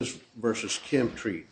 v. ChemTreat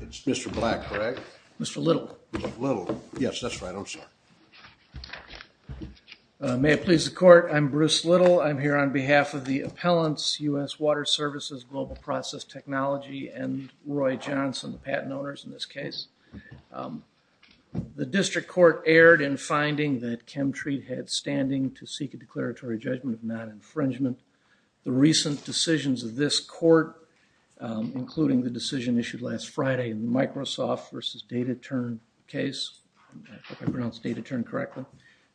It's Mr. Black, correct? Mr. Little. Mr. Little. Yes, that's right. I'm sorry. May it please the Court, I'm Bruce Little. I'm here on behalf of the appellants, U.S. Water Services, Global Process Technology, and Roy Johnson, the patent owners in this case. The district court erred in finding that ChemTreat had standing to seek a declaratory judgment of non-infringement. The recent decisions of this court, including the decision issued last Friday in the Microsoft v. DataTurn case, I hope I pronounced DataTurn correctly,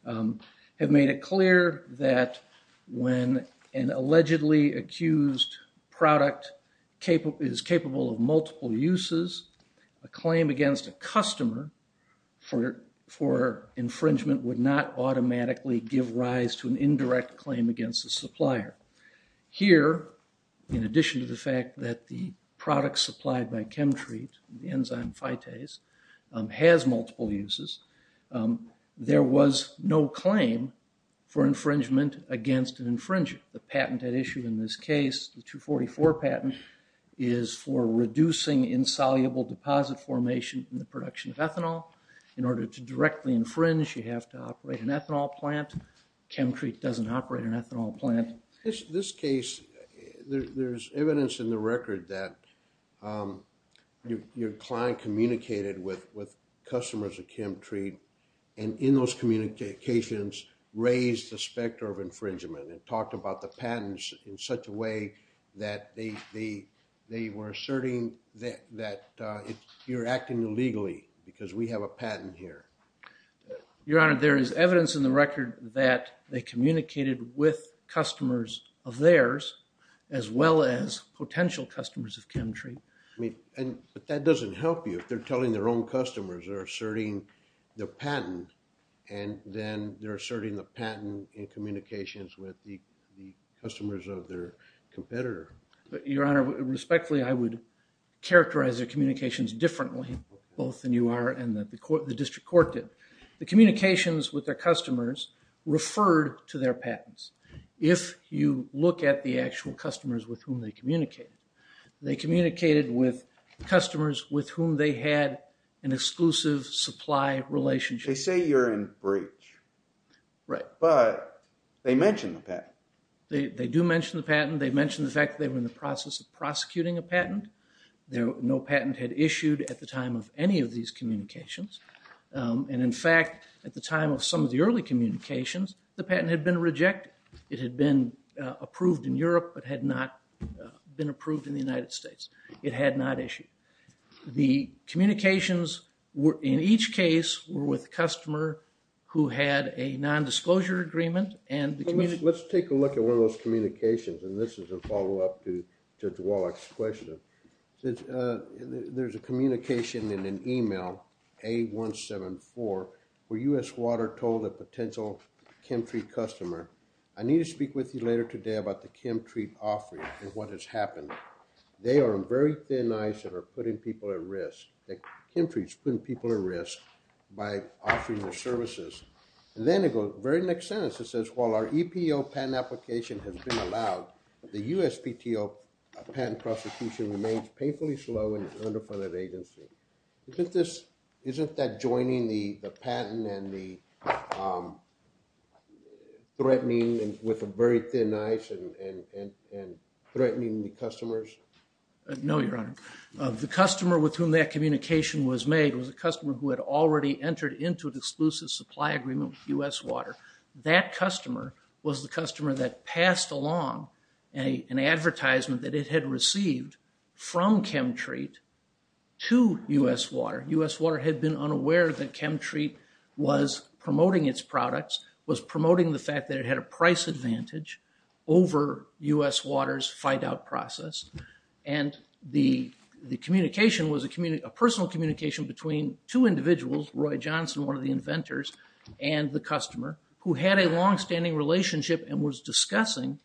have made it clear that when an allegedly accused product is capable of multiple uses, a claim against a customer for infringement would not automatically give rise to an indirect claim against the supplier. Here, in addition to the fact that the product supplied by ChemTreat, the enzyme Phytase, has multiple uses, there was no claim for infringement against an infringer. The patent at issue in this case, the 244 patent, is for reducing insoluble deposit formation in the production of ethanol. In order to directly infringe, you have to operate an ethanol plant. ChemTreat doesn't operate an ethanol plant. In this case, there's evidence in the record that your client communicated with customers at ChemTreat, and in those communications, raised the specter of infringement, and talked about the patents in such a way that they were asserting that you're acting illegally because we have a patent here. Your Honor, there is evidence in the record that they communicated with customers of theirs, as well as potential customers of ChemTreat. But that doesn't help you. If they're telling their own customers, they're asserting their patent, and then they're asserting the patent in communications with the customers of their competitor. Your Honor, respectfully, I would characterize their communications differently, both than you are and that the district court did. The communications with their customers referred to their patents. If you look at the actual customers with whom they communicated, they communicated with customers with whom they had an exclusive supply relationship. They say you're in breach, but they mention the patent. They do mention the patent. They mention the fact that they were in the process of prosecuting a patent. No patent had issued at the time of any of these communications. And in fact, at the time of some of the early communications, the patent had been rejected. It had been approved in Europe, but had not been approved in the United States. It had not issued. The communications in each case were with a customer who had a nondisclosure agreement. Let's take a look at one of those communications, and this is a follow-up to Judge Wallach's question. There's a communication in an email, A174, where U.S. Water told a potential Chemtree customer, I need to speak with you later today about the Chemtree offering and what has happened. They are on very thin ice and are putting people at risk. Chemtree is putting people at risk by offering their services. And then it goes, the very next sentence, it says, while our EPO patent application has been allowed, the USPTO patent prosecution remains painfully slow and underfunded agency. Isn't that joining the patent and the threatening with very thin ice and threatening the customers? No, Your Honor. The customer with whom that communication was made was a customer who had already entered into an exclusive supply agreement with U.S. Water. That customer was the customer that passed along an advertisement that it had received from Chemtree to U.S. Water. U.S. Water had been unaware that Chemtree was promoting its products, was promoting the fact that it had a price advantage over U.S. Water's fight-out process. And the communication was a personal communication between two individuals, Roy Johnson, one of the inventors, and the customer who had a longstanding relationship and was discussing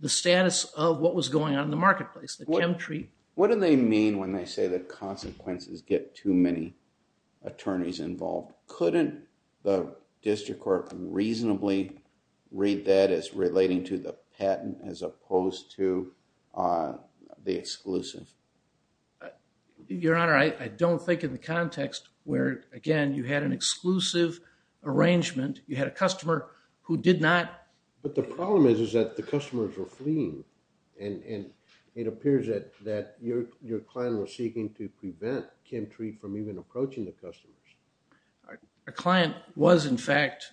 the status of what was going on in the marketplace, the Chemtree. What do they mean when they say that consequences get too many attorneys involved? Couldn't the district court reasonably read that as relating to the patent as opposed to the exclusive? Your Honor, I don't think in the context where, again, you had an exclusive arrangement, you had a customer who did not. But the problem is that the customers were fleeing. And it appears that your client was seeking to prevent Chemtree from even approaching the customers. Our client was, in fact,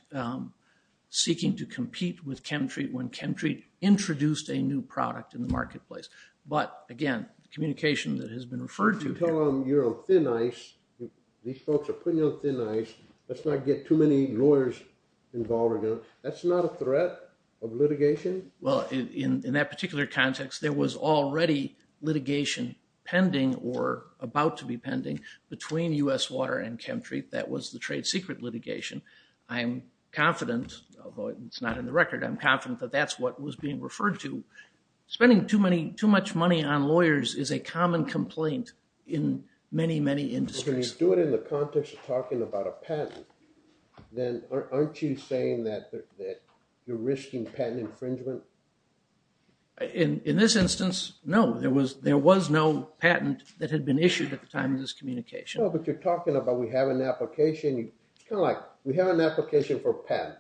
seeking to compete with Chemtree when Chemtree introduced a new product in the marketplace. But, again, communication that has been referred to. You're on thin ice. These folks are putting you on thin ice. Let's not get too many lawyers involved. That's not a threat of litigation. Well, in that particular context, there was already litigation pending or about to be pending between U.S. Water and Chemtree. That was the trade secret litigation. I'm confident, although it's not in the record, I'm confident that that's what was being referred to. Spending too much money on lawyers is a common complaint in many, many industries. When you do it in the context of talking about a patent, then aren't you saying that you're risking patent infringement? In this instance, no. There was no patent that had been issued at the time of this communication. But you're talking about we have an application. It's kind of like we have an application for a patent.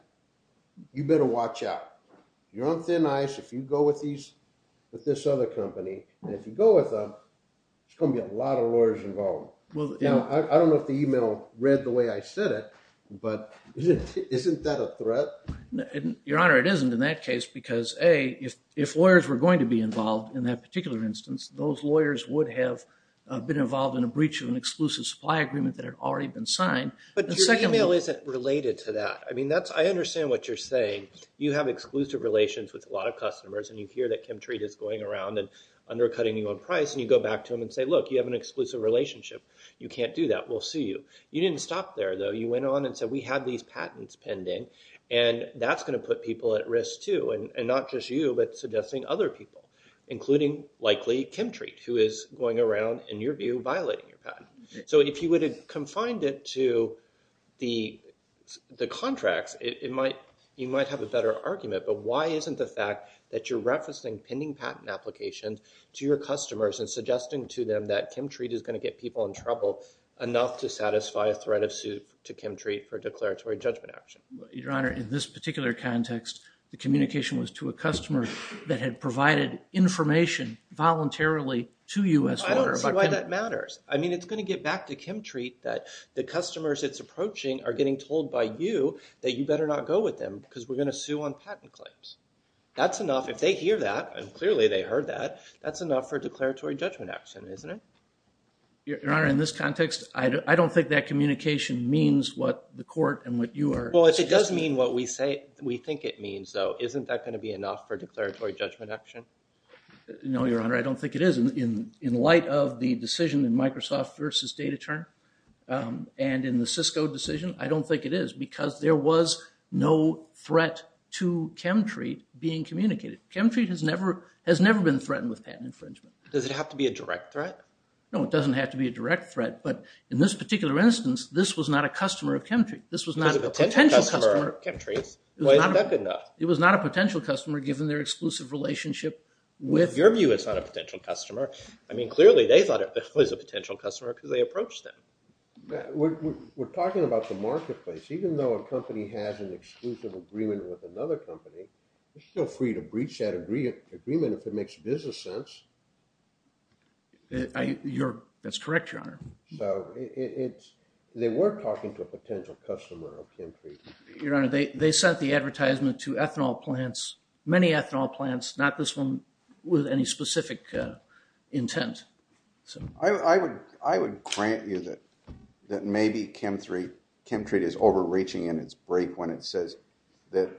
You better watch out. You're on thin ice if you go with this other company. And if you go with them, there's going to be a lot of lawyers involved. Now, I don't know if the email read the way I said it, but isn't that a threat? Your Honor, it isn't in that case because, A, if lawyers were going to be involved in that particular instance, those lawyers would have been involved in a breach of an exclusive supply agreement that had already been signed. But your email isn't related to that. I mean, I understand what you're saying. You have exclusive relations with a lot of customers, and you hear that Chemtree is going around and undercutting you on price, and you go back to them and say, look, you have an exclusive relationship. You can't do that. We'll sue you. You didn't stop there, though. You went on and said, we have these patents pending, and that's going to put people at risk, too, and not just you, but suggesting other people, including likely Chemtree, who is going around, in your view, violating your patent. So if you would have confined it to the contracts, you might have a better argument. But why isn't the fact that you're referencing pending patent applications to your customers and suggesting to them that Chemtree is going to get people in trouble enough to satisfy a threat of suit to Chemtree for declaratory judgment action? Your Honor, in this particular context, the communication was to a customer that had provided information voluntarily to you. I don't see why that matters. I mean, it's going to get back to Chemtree that the customers it's approaching are getting told by you that you better not go with them because we're going to sue on patent claims. That's enough. If they hear that, and clearly they heard that, that's enough for declaratory judgment action, isn't it? Your Honor, in this context, I don't think that communication means what the court and what you are suggesting. Well, if it does mean what we think it means, though, isn't that going to be enough for declaratory judgment action? No, Your Honor, I don't think it is. In light of the decision in Microsoft versus DataTerm and in the Cisco decision, I don't think it is because there was no threat to Chemtree being communicated. Chemtree has never been threatened with patent infringement. Does it have to be a direct threat? No, it doesn't have to be a direct threat, but in this particular instance, this was not a customer of Chemtree. This was not a potential customer of Chemtree. Well, isn't that good enough? It was not a potential customer given their exclusive relationship with – In your view, it's not a potential customer. I mean, clearly they thought it was a potential customer because they approached them. We're talking about the marketplace. Even though a company has an exclusive agreement with another company, they're still free to breach that agreement if it makes business sense. That's correct, Your Honor. So, they were talking to a potential customer of Chemtree. Your Honor, they sent the advertisement to ethanol plants, many ethanol plants, not this one with any specific intent. I would grant you that maybe Chemtree is overreaching in its break when it says that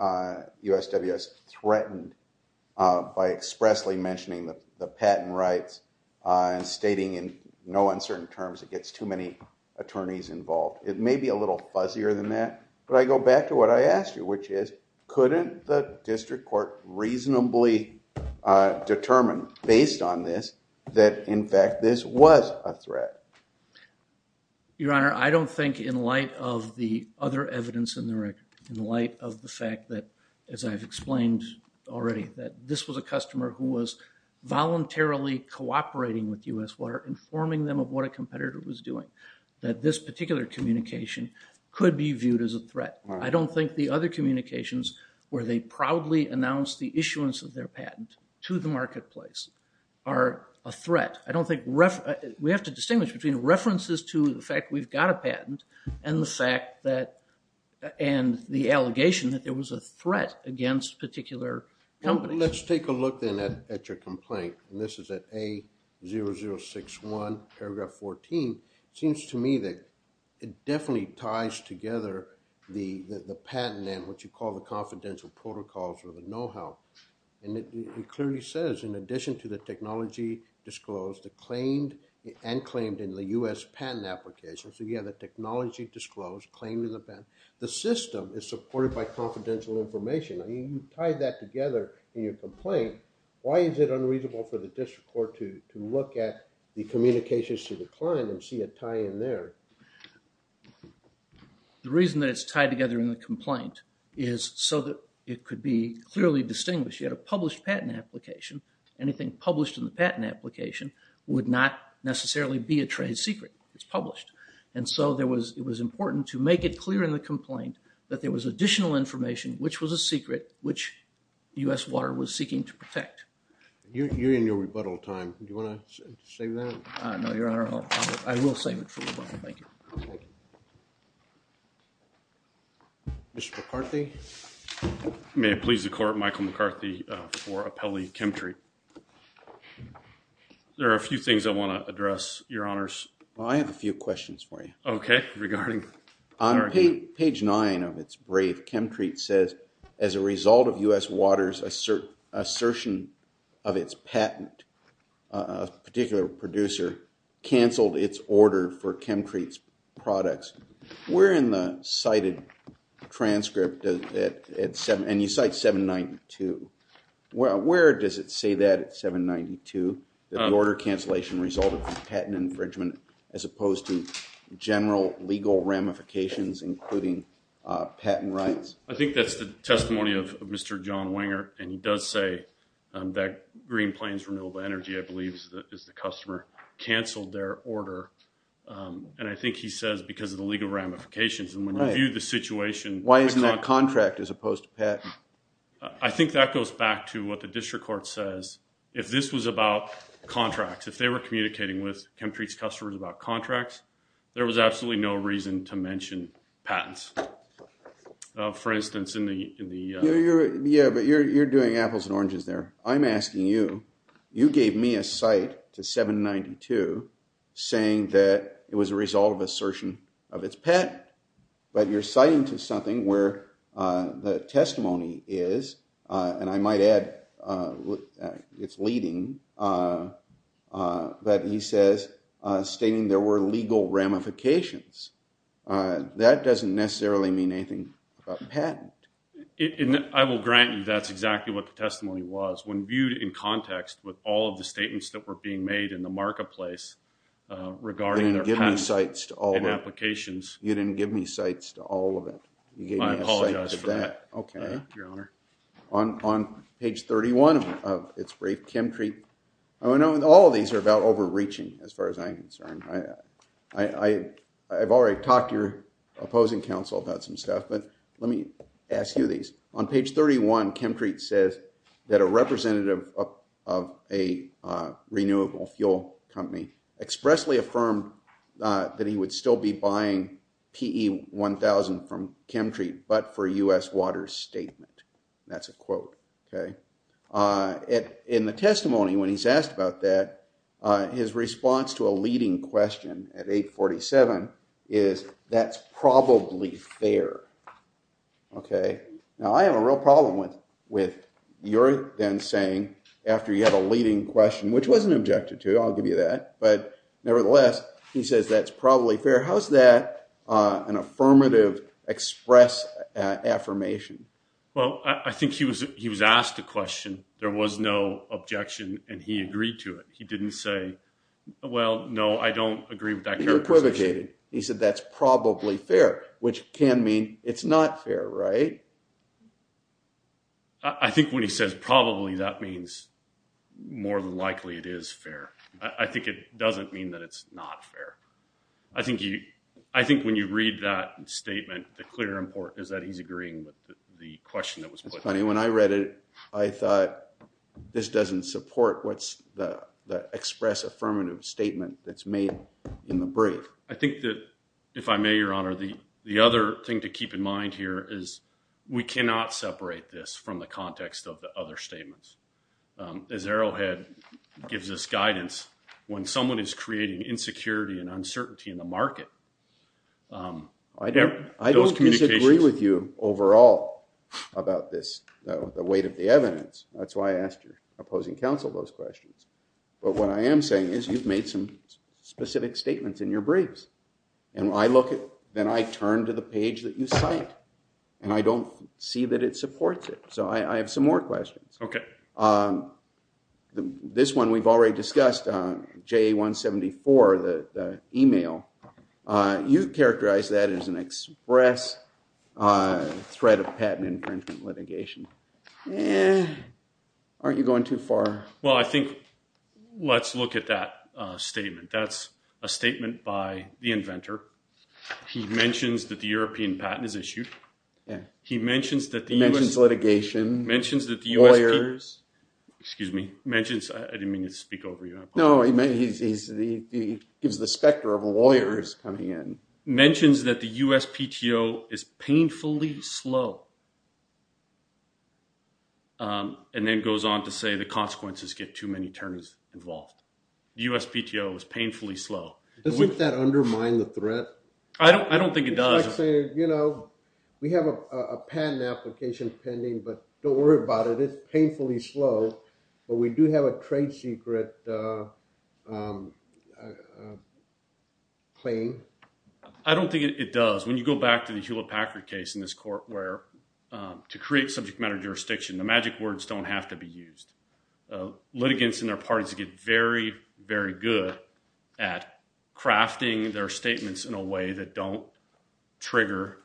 USWS threatened by expressly mentioning the patent rights and stating in no uncertain terms it gets too many attorneys involved. It may be a little fuzzier than that, but I go back to what I asked you, which is couldn't the district court reasonably determine based on this that, in fact, this was a threat? Your Honor, I don't think in light of the other evidence in the record, in light of the fact that, as I've explained already, that this was a customer who was voluntarily cooperating with US Water, informing them of what a competitor was doing, that this particular communication could be viewed as a threat. I don't think the other communications where they proudly announced the issuance of their patent to the marketplace are a threat. I don't think, we have to distinguish between references to the fact we've got a patent and the fact that, and the allegation that there was a threat against particular companies. Let's take a look then at your complaint. This is at A0061, paragraph 14. It seems to me that it definitely ties together the patent and what you call the confidential protocols or the know-how. It clearly says, in addition to the technology disclosed and claimed in the US patent application, so you have the technology disclosed, claimed in the patent. The system is supported by confidential information. You tied that together in your complaint. Why is it unreasonable for the district court to look at the communications to the client and see a tie-in there? The reason that it's tied together in the complaint is so that it could be clearly distinguished. You had a published patent application. Anything published in the patent application would not necessarily be a trade secret. It's published. And so it was important to make it clear in the complaint that there was additional information which was a secret, which US Water was seeking to protect. You're in your rebuttal time. Do you want to save that? No, Your Honor. I will save it for rebuttal. Thank you. Mr. McCarthy? May it please the Court, Michael McCarthy for Appellee Chemtreat. There are a few things I want to address, Your Honors. I have a few questions for you. Okay, regarding? On page 9 of its brief, Chemtreat says, as a result of US Water's assertion of its patent, a particular producer canceled its order for Chemtreat's products. Where in the cited transcript, and you cite 792, where does it say that at 792, that the order cancellation resulted from patent infringement as opposed to general legal ramifications including patent rights? I think that's the testimony of Mr. John Wenger, and he does say that Green Plains Renewable Energy, I believe, is the customer, canceled their order. And I think he says because of the legal ramifications. And when you view the situation. Why isn't that contract as opposed to patent? I think that goes back to what the district court says. If this was about contracts, if they were communicating with Chemtreat's customers about contracts, there was absolutely no reason to mention patents. For instance, in the. Yeah, but you're doing apples and oranges there. I'm asking you, you gave me a site to 792, saying that it was a result of assertion of its patent. But you're citing to something where the testimony is, and I might add it's leading, but he says stating there were legal ramifications. That doesn't necessarily mean anything about patent. I will grant you that's exactly what the testimony was. When viewed in context with all of the statements that were being made in the marketplace regarding their patent applications. You didn't give me sites to all of it. I apologize for that. On page 31 of its brief, Chemtreat. All of these are about overreaching as far as I'm concerned. I've already talked to your opposing counsel about some stuff, but let me ask you these. On page 31, Chemtreat says that a representative of a renewable fuel company expressly affirmed that he would still be buying PE1000 from Chemtreat, but for a U.S. water statement. That's a quote. In the testimony, when he's asked about that, his response to a leading question at 847 is, that's probably fair. Now, I have a real problem with your then saying, after you have a leading question, which wasn't objected to, I'll give you that. But nevertheless, he says that's probably fair. How is that an affirmative express affirmation? Well, I think he was asked a question. There was no objection, and he agreed to it. He didn't say, well, no, I don't agree with that characterization. He equivocated. He said that's probably fair, which can mean it's not fair, right? I think when he says probably, that means more than likely it is fair. I think it doesn't mean that it's not fair. I think when you read that statement, the clear import is that he's agreeing with the question that was put. It's funny, when I read it, I thought, this doesn't support what's the express affirmative statement that's made in the brief. I think that, if I may, Your Honor, the other thing to keep in mind here is, we cannot separate this from the context of the other statements. As Arrowhead gives us guidance, when someone is creating insecurity and uncertainty in the market, I don't disagree with you overall about the weight of the evidence. That's why I asked your opposing counsel those questions. But what I am saying is you've made some specific statements in your briefs. Then I turn to the page that you cite, and I don't see that it supports it. So I have some more questions. Okay. This one we've already discussed, JA-174, the email. You characterize that as an express threat of patent infringement litigation. Aren't you going too far? Well, I think let's look at that statement. That's a statement by the inventor. He mentions that the European patent is issued. He mentions litigation, lawyers. Excuse me. I didn't mean to speak over you. No, he gives the specter of lawyers coming in. He mentions that the USPTO is painfully slow, and then goes on to say the consequences get too many terms involved. The USPTO is painfully slow. Doesn't that undermine the threat? I don't think it does. We have a patent application pending, but don't worry about it. It's painfully slow, but we do have a trade secret claim. I don't think it does. When you go back to the Hewlett-Packard case in this court where to create subject matter jurisdiction, the magic words don't have to be used. Litigants and their parties get very, very good at crafting their statements in a way that don't trigger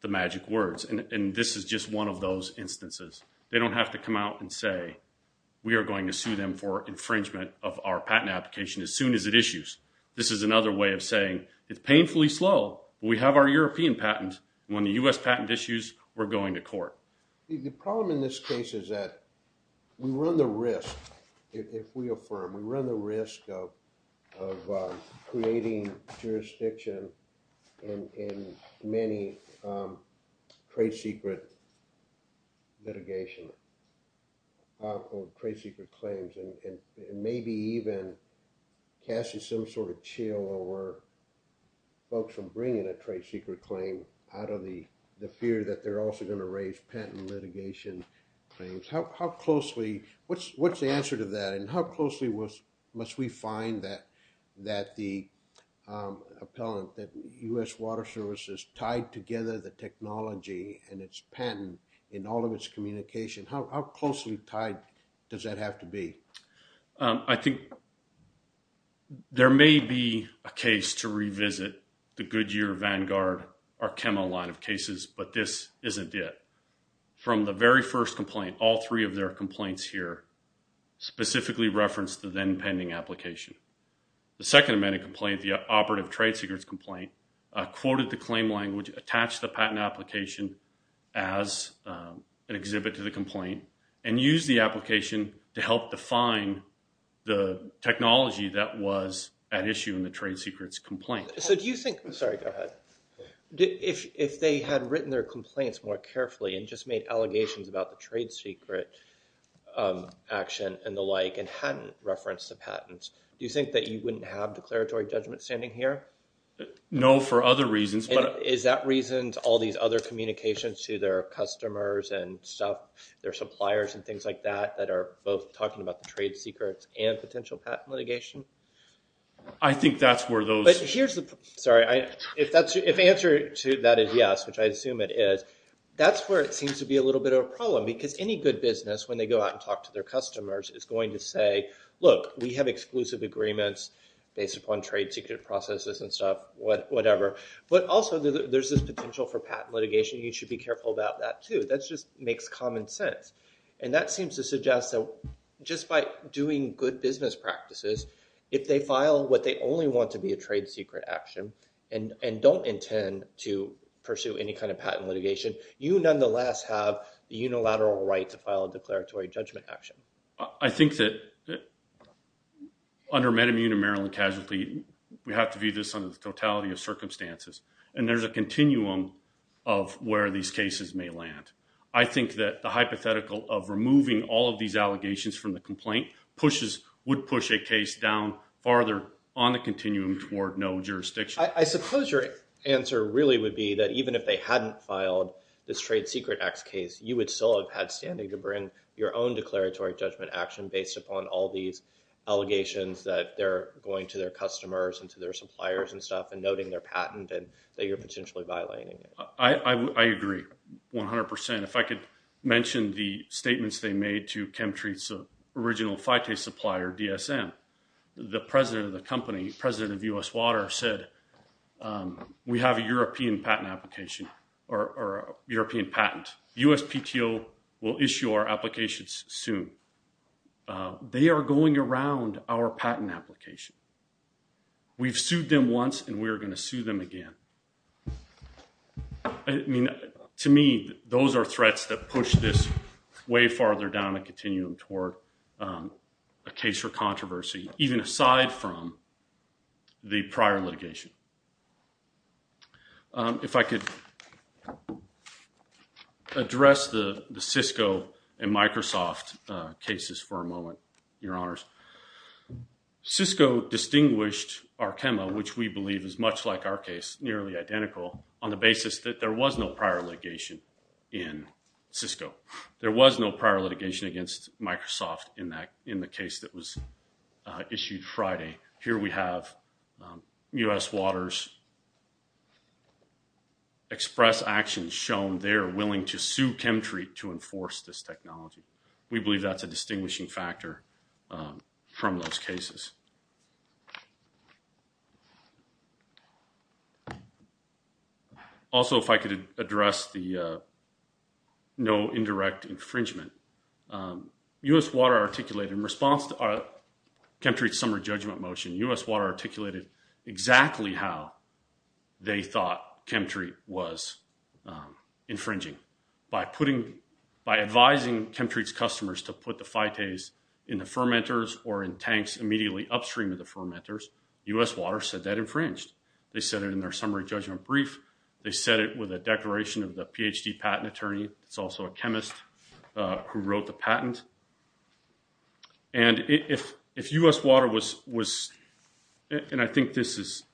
the magic words. This is just one of those instances. They don't have to come out and say we are going to sue them for infringement of our patent application as soon as it issues. This is another way of saying it's painfully slow. We have our European patent. When the US patent issues, we're going to court. The problem in this case is that we run the risk if we affirm. We run the risk of creating jurisdiction in many trade secret litigation or trade secret claims and maybe even casting some sort of chill over folks from bringing a trade secret claim out of the fear that they're also going to raise patent litigation claims. What's the answer to that? How closely must we find that the appellant, that US Water Services tied together the technology and its patent in all of its communication? How closely tied does that have to be? I think there may be a case to revisit the Goodyear, Vanguard, Arkema line of cases, but this isn't it. From the very first complaint, all three of their complaints here specifically referenced the then pending application. The second amended complaint, the operative trade secrets complaint, quoted the claim language, attached the patent application as an exhibit to the complaint, and used the application to help define the technology that was at issue in the trade secrets complaint. Sorry, go ahead. If they had written their complaints more carefully and just made allegations about the trade secret action and the like and hadn't referenced the patents, do you think that you wouldn't have declaratory judgment standing here? No, for other reasons. Is that reason all these other communications to their customers and their suppliers and things like that that are both talking about the trade secrets and potential patent litigation? I think that's where those... Sorry, if the answer to that is yes, which I assume it is, that's where it seems to be a little bit of a problem because any good business, when they go out and talk to their customers, is going to say, look, we have exclusive agreements based upon trade secret processes and stuff, whatever. But also there's this potential for patent litigation. You should be careful about that too. That just makes common sense. And that seems to suggest that just by doing good business practices, if they file what they only want to be a trade secret action and don't intend to pursue any kind of patent litigation, you nonetheless have the unilateral right to file a declaratory judgment action. I think that under MedImmune and Maryland Casualty, we have to view this under the totality of circumstances. And there's a continuum of where these cases may land. I think that the hypothetical of removing all of these allegations from the complaint would push a case down farther on the continuum toward no jurisdiction. I suppose your answer really would be that even if they hadn't filed this trade secret X case, you would still have had standing to bring your own declaratory judgment action based upon all these allegations that they're going to their customers and to their suppliers and stuff and noting their patent and that you're potentially violating it. I agree 100%. If I could mention the statements they made to Chemtreat's original Phytase supplier, DSM. The president of the company, president of U.S. Water, said we have a European patent application or a European patent. USPTO will issue our applications soon. They are going around our patent application. We've sued them once and we're going to sue them again. I mean, to me, those are threats that push this way farther down the continuum toward a case for controversy, even aside from the prior litigation. If I could address the Cisco and Microsoft cases for a moment, your honors, Cisco distinguished Arkema, which we believe is much like our case, nearly identical, on the basis that there was no prior litigation in Cisco. There was no prior litigation against Microsoft in the case that was issued Friday. Here we have U.S. Water's express actions shown they are willing to sue Chemtreat to enforce this technology. We believe that's a distinguishing factor from those cases. Also, if I could address the no indirect infringement. U.S. Water articulated in response to Chemtreat's summer judgment motion, U.S. Water articulated exactly how they thought Chemtreat was infringing. By advising Chemtreat's customers to put the phytase in the fermenters or in tanks immediately upstream of the fermenters, U.S. Water said that infringed. They said it in their summary judgment brief. They said it with a declaration of the Ph.D. patent attorney. It's also a chemist who wrote the patent. And if U.S. Water was, and I think this is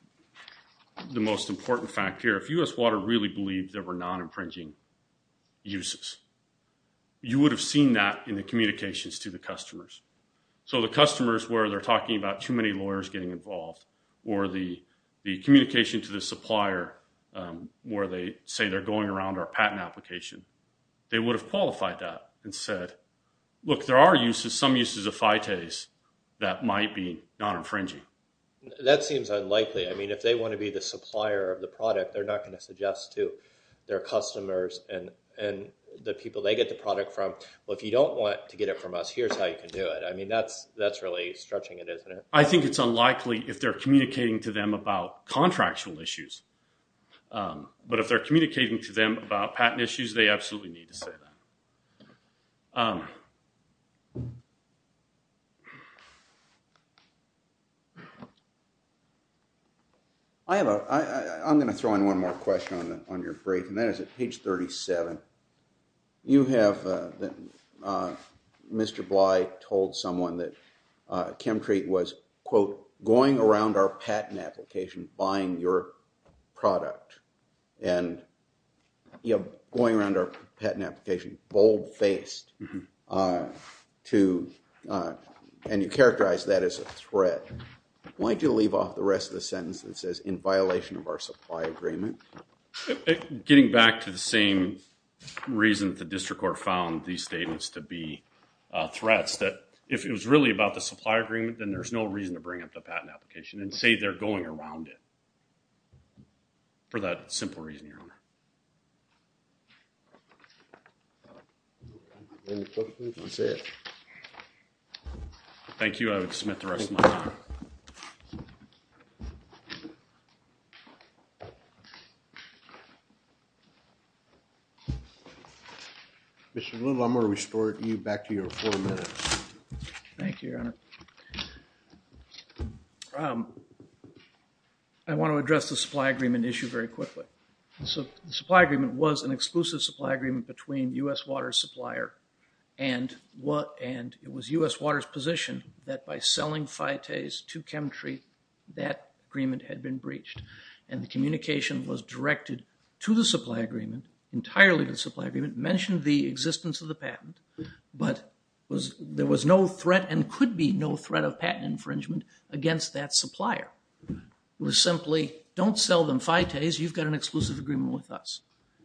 the most important fact here, if U.S. Water really believed there were non-infringing uses, you would have seen that in the communications to the customers. So the customers where they're talking about too many lawyers getting involved or the communication to the supplier where they say they're going around our patent application, they would have qualified that and said, look, there are uses, some uses of phytase that might be non-infringing. That seems unlikely. I mean, if they want to be the supplier of the product, they're not going to suggest to their customers and the people they get the product from, well, if you don't want to get it from us, here's how you can do it. I mean, that's really stretching it, isn't it? I think it's unlikely if they're communicating to them about contractual issues. But if they're communicating to them about patent issues, they absolutely need to say that. I'm going to throw in one more question on your brief, and that is at page 37. You have Mr. Bly told someone that Chemtreat was, quote, going around our patent application, buying your product. And going around our patent application, bold-faced, and you characterize that as a threat. Why did you leave off the rest of the sentence that says, in violation of our supply agreement? Getting back to the same reason the district court found these statements to be threats, that if it was really about the supply agreement, then there's no reason to bring up the patent application and say they're going around it. For that simple reason, Your Honor. Any questions? That's it. Thank you. I will submit the rest of my time. Mr. Little, I'm going to restore you back to your four minutes. Thank you, Your Honor. I want to address the supply agreement issue very quickly. The supply agreement was an exclusive supply agreement between U.S. Water's supplier, and it was U.S. Water's position that by selling Phytase to Chemtreat, that agreement had been breached. And the communication was directed to the supply agreement, entirely to the supply agreement, mentioned the existence of the patent, but there was no threat and could be no threat of patent infringement against that supplier. It was simply, don't sell them Phytase, you've got an exclusive agreement with us.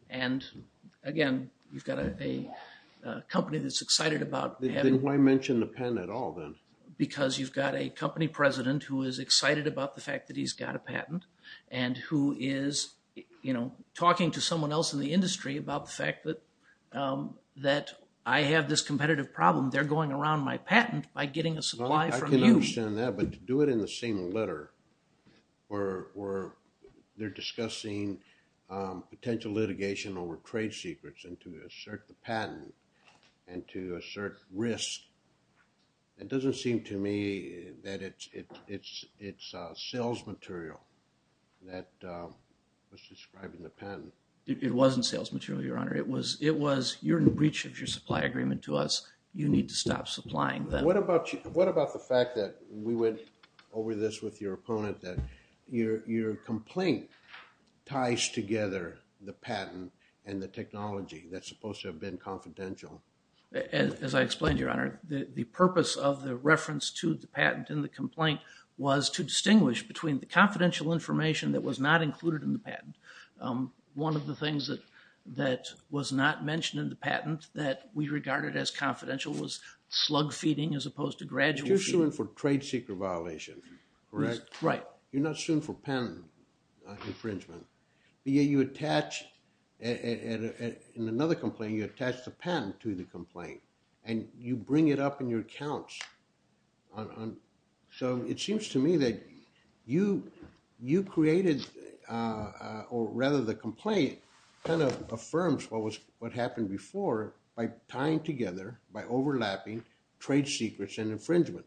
And, again, you've got a company that's excited about having. Then why mention the pen at all then? Because you've got a company president who is excited about the fact that he's got a patent and who is, you know, talking to someone else in the industry about the fact that I have this competitive problem. They're going around my patent by getting a supply from you. I can understand that, but to do it in the same letter, where they're discussing potential litigation over trade secrets and to assert the patent and to assert risk, it doesn't seem to me that it's sales material that was described in the patent. It wasn't sales material, Your Honor. It was, you're in breach of your supply agreement to us. You need to stop supplying them. What about the fact that we went over this with your opponent, that your complaint ties together the patent and the technology that's supposed to have been confidential? As I explained, Your Honor, the purpose of the reference to the patent in the complaint was to distinguish between the confidential information that was not included in the patent. One of the things that was not mentioned in the patent that we regarded as confidential was slug feeding as opposed to gradual feeding. You're suing for trade secret violation, correct? Right. You're not suing for patent infringement, but yet you attach, in another complaint, you attach the patent to the complaint and you bring it up in your accounts. So it seems to me that you created or rather the complaint kind of affirms what happened before by tying together, by overlapping trade secrets and infringement.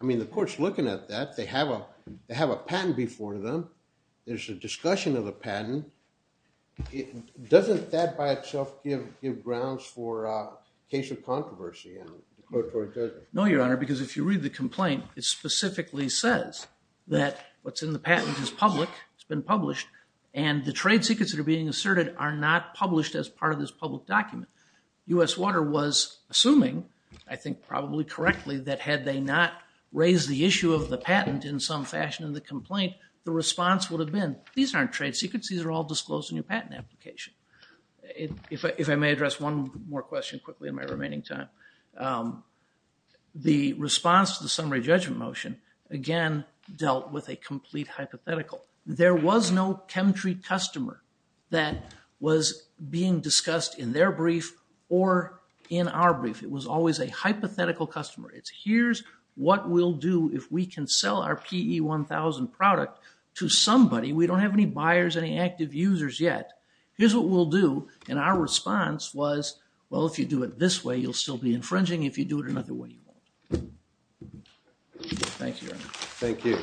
I mean, the court's looking at that. They have a patent before them. There's a discussion of the patent. Doesn't that by itself give grounds for a case of controversy? No, Your Honor, because if you read the complaint, it specifically says that what's in the patent is public. It's been published. And the trade secrets that are being asserted are not published as part of this public document. U.S. Water was assuming, I think probably correctly, that had they not raised the issue of the patent in some fashion in the complaint, the response would have been, these aren't trade secrets. These are all disclosed in your patent application. If I may address one more question quickly in my remaining time, the response to the summary judgment motion, again, dealt with a complete hypothetical. There was no chemtreat customer that was being discussed in their brief or in our brief. It was always a hypothetical customer. It's here's what we'll do if we can sell our PE1000 product to somebody. We don't have any buyers, any active users yet. Here's what we'll do. And our response was, well, if you do it this way, you'll still be infringing. If you do it another way, you won't. Thank you, Your Honor. Thank you.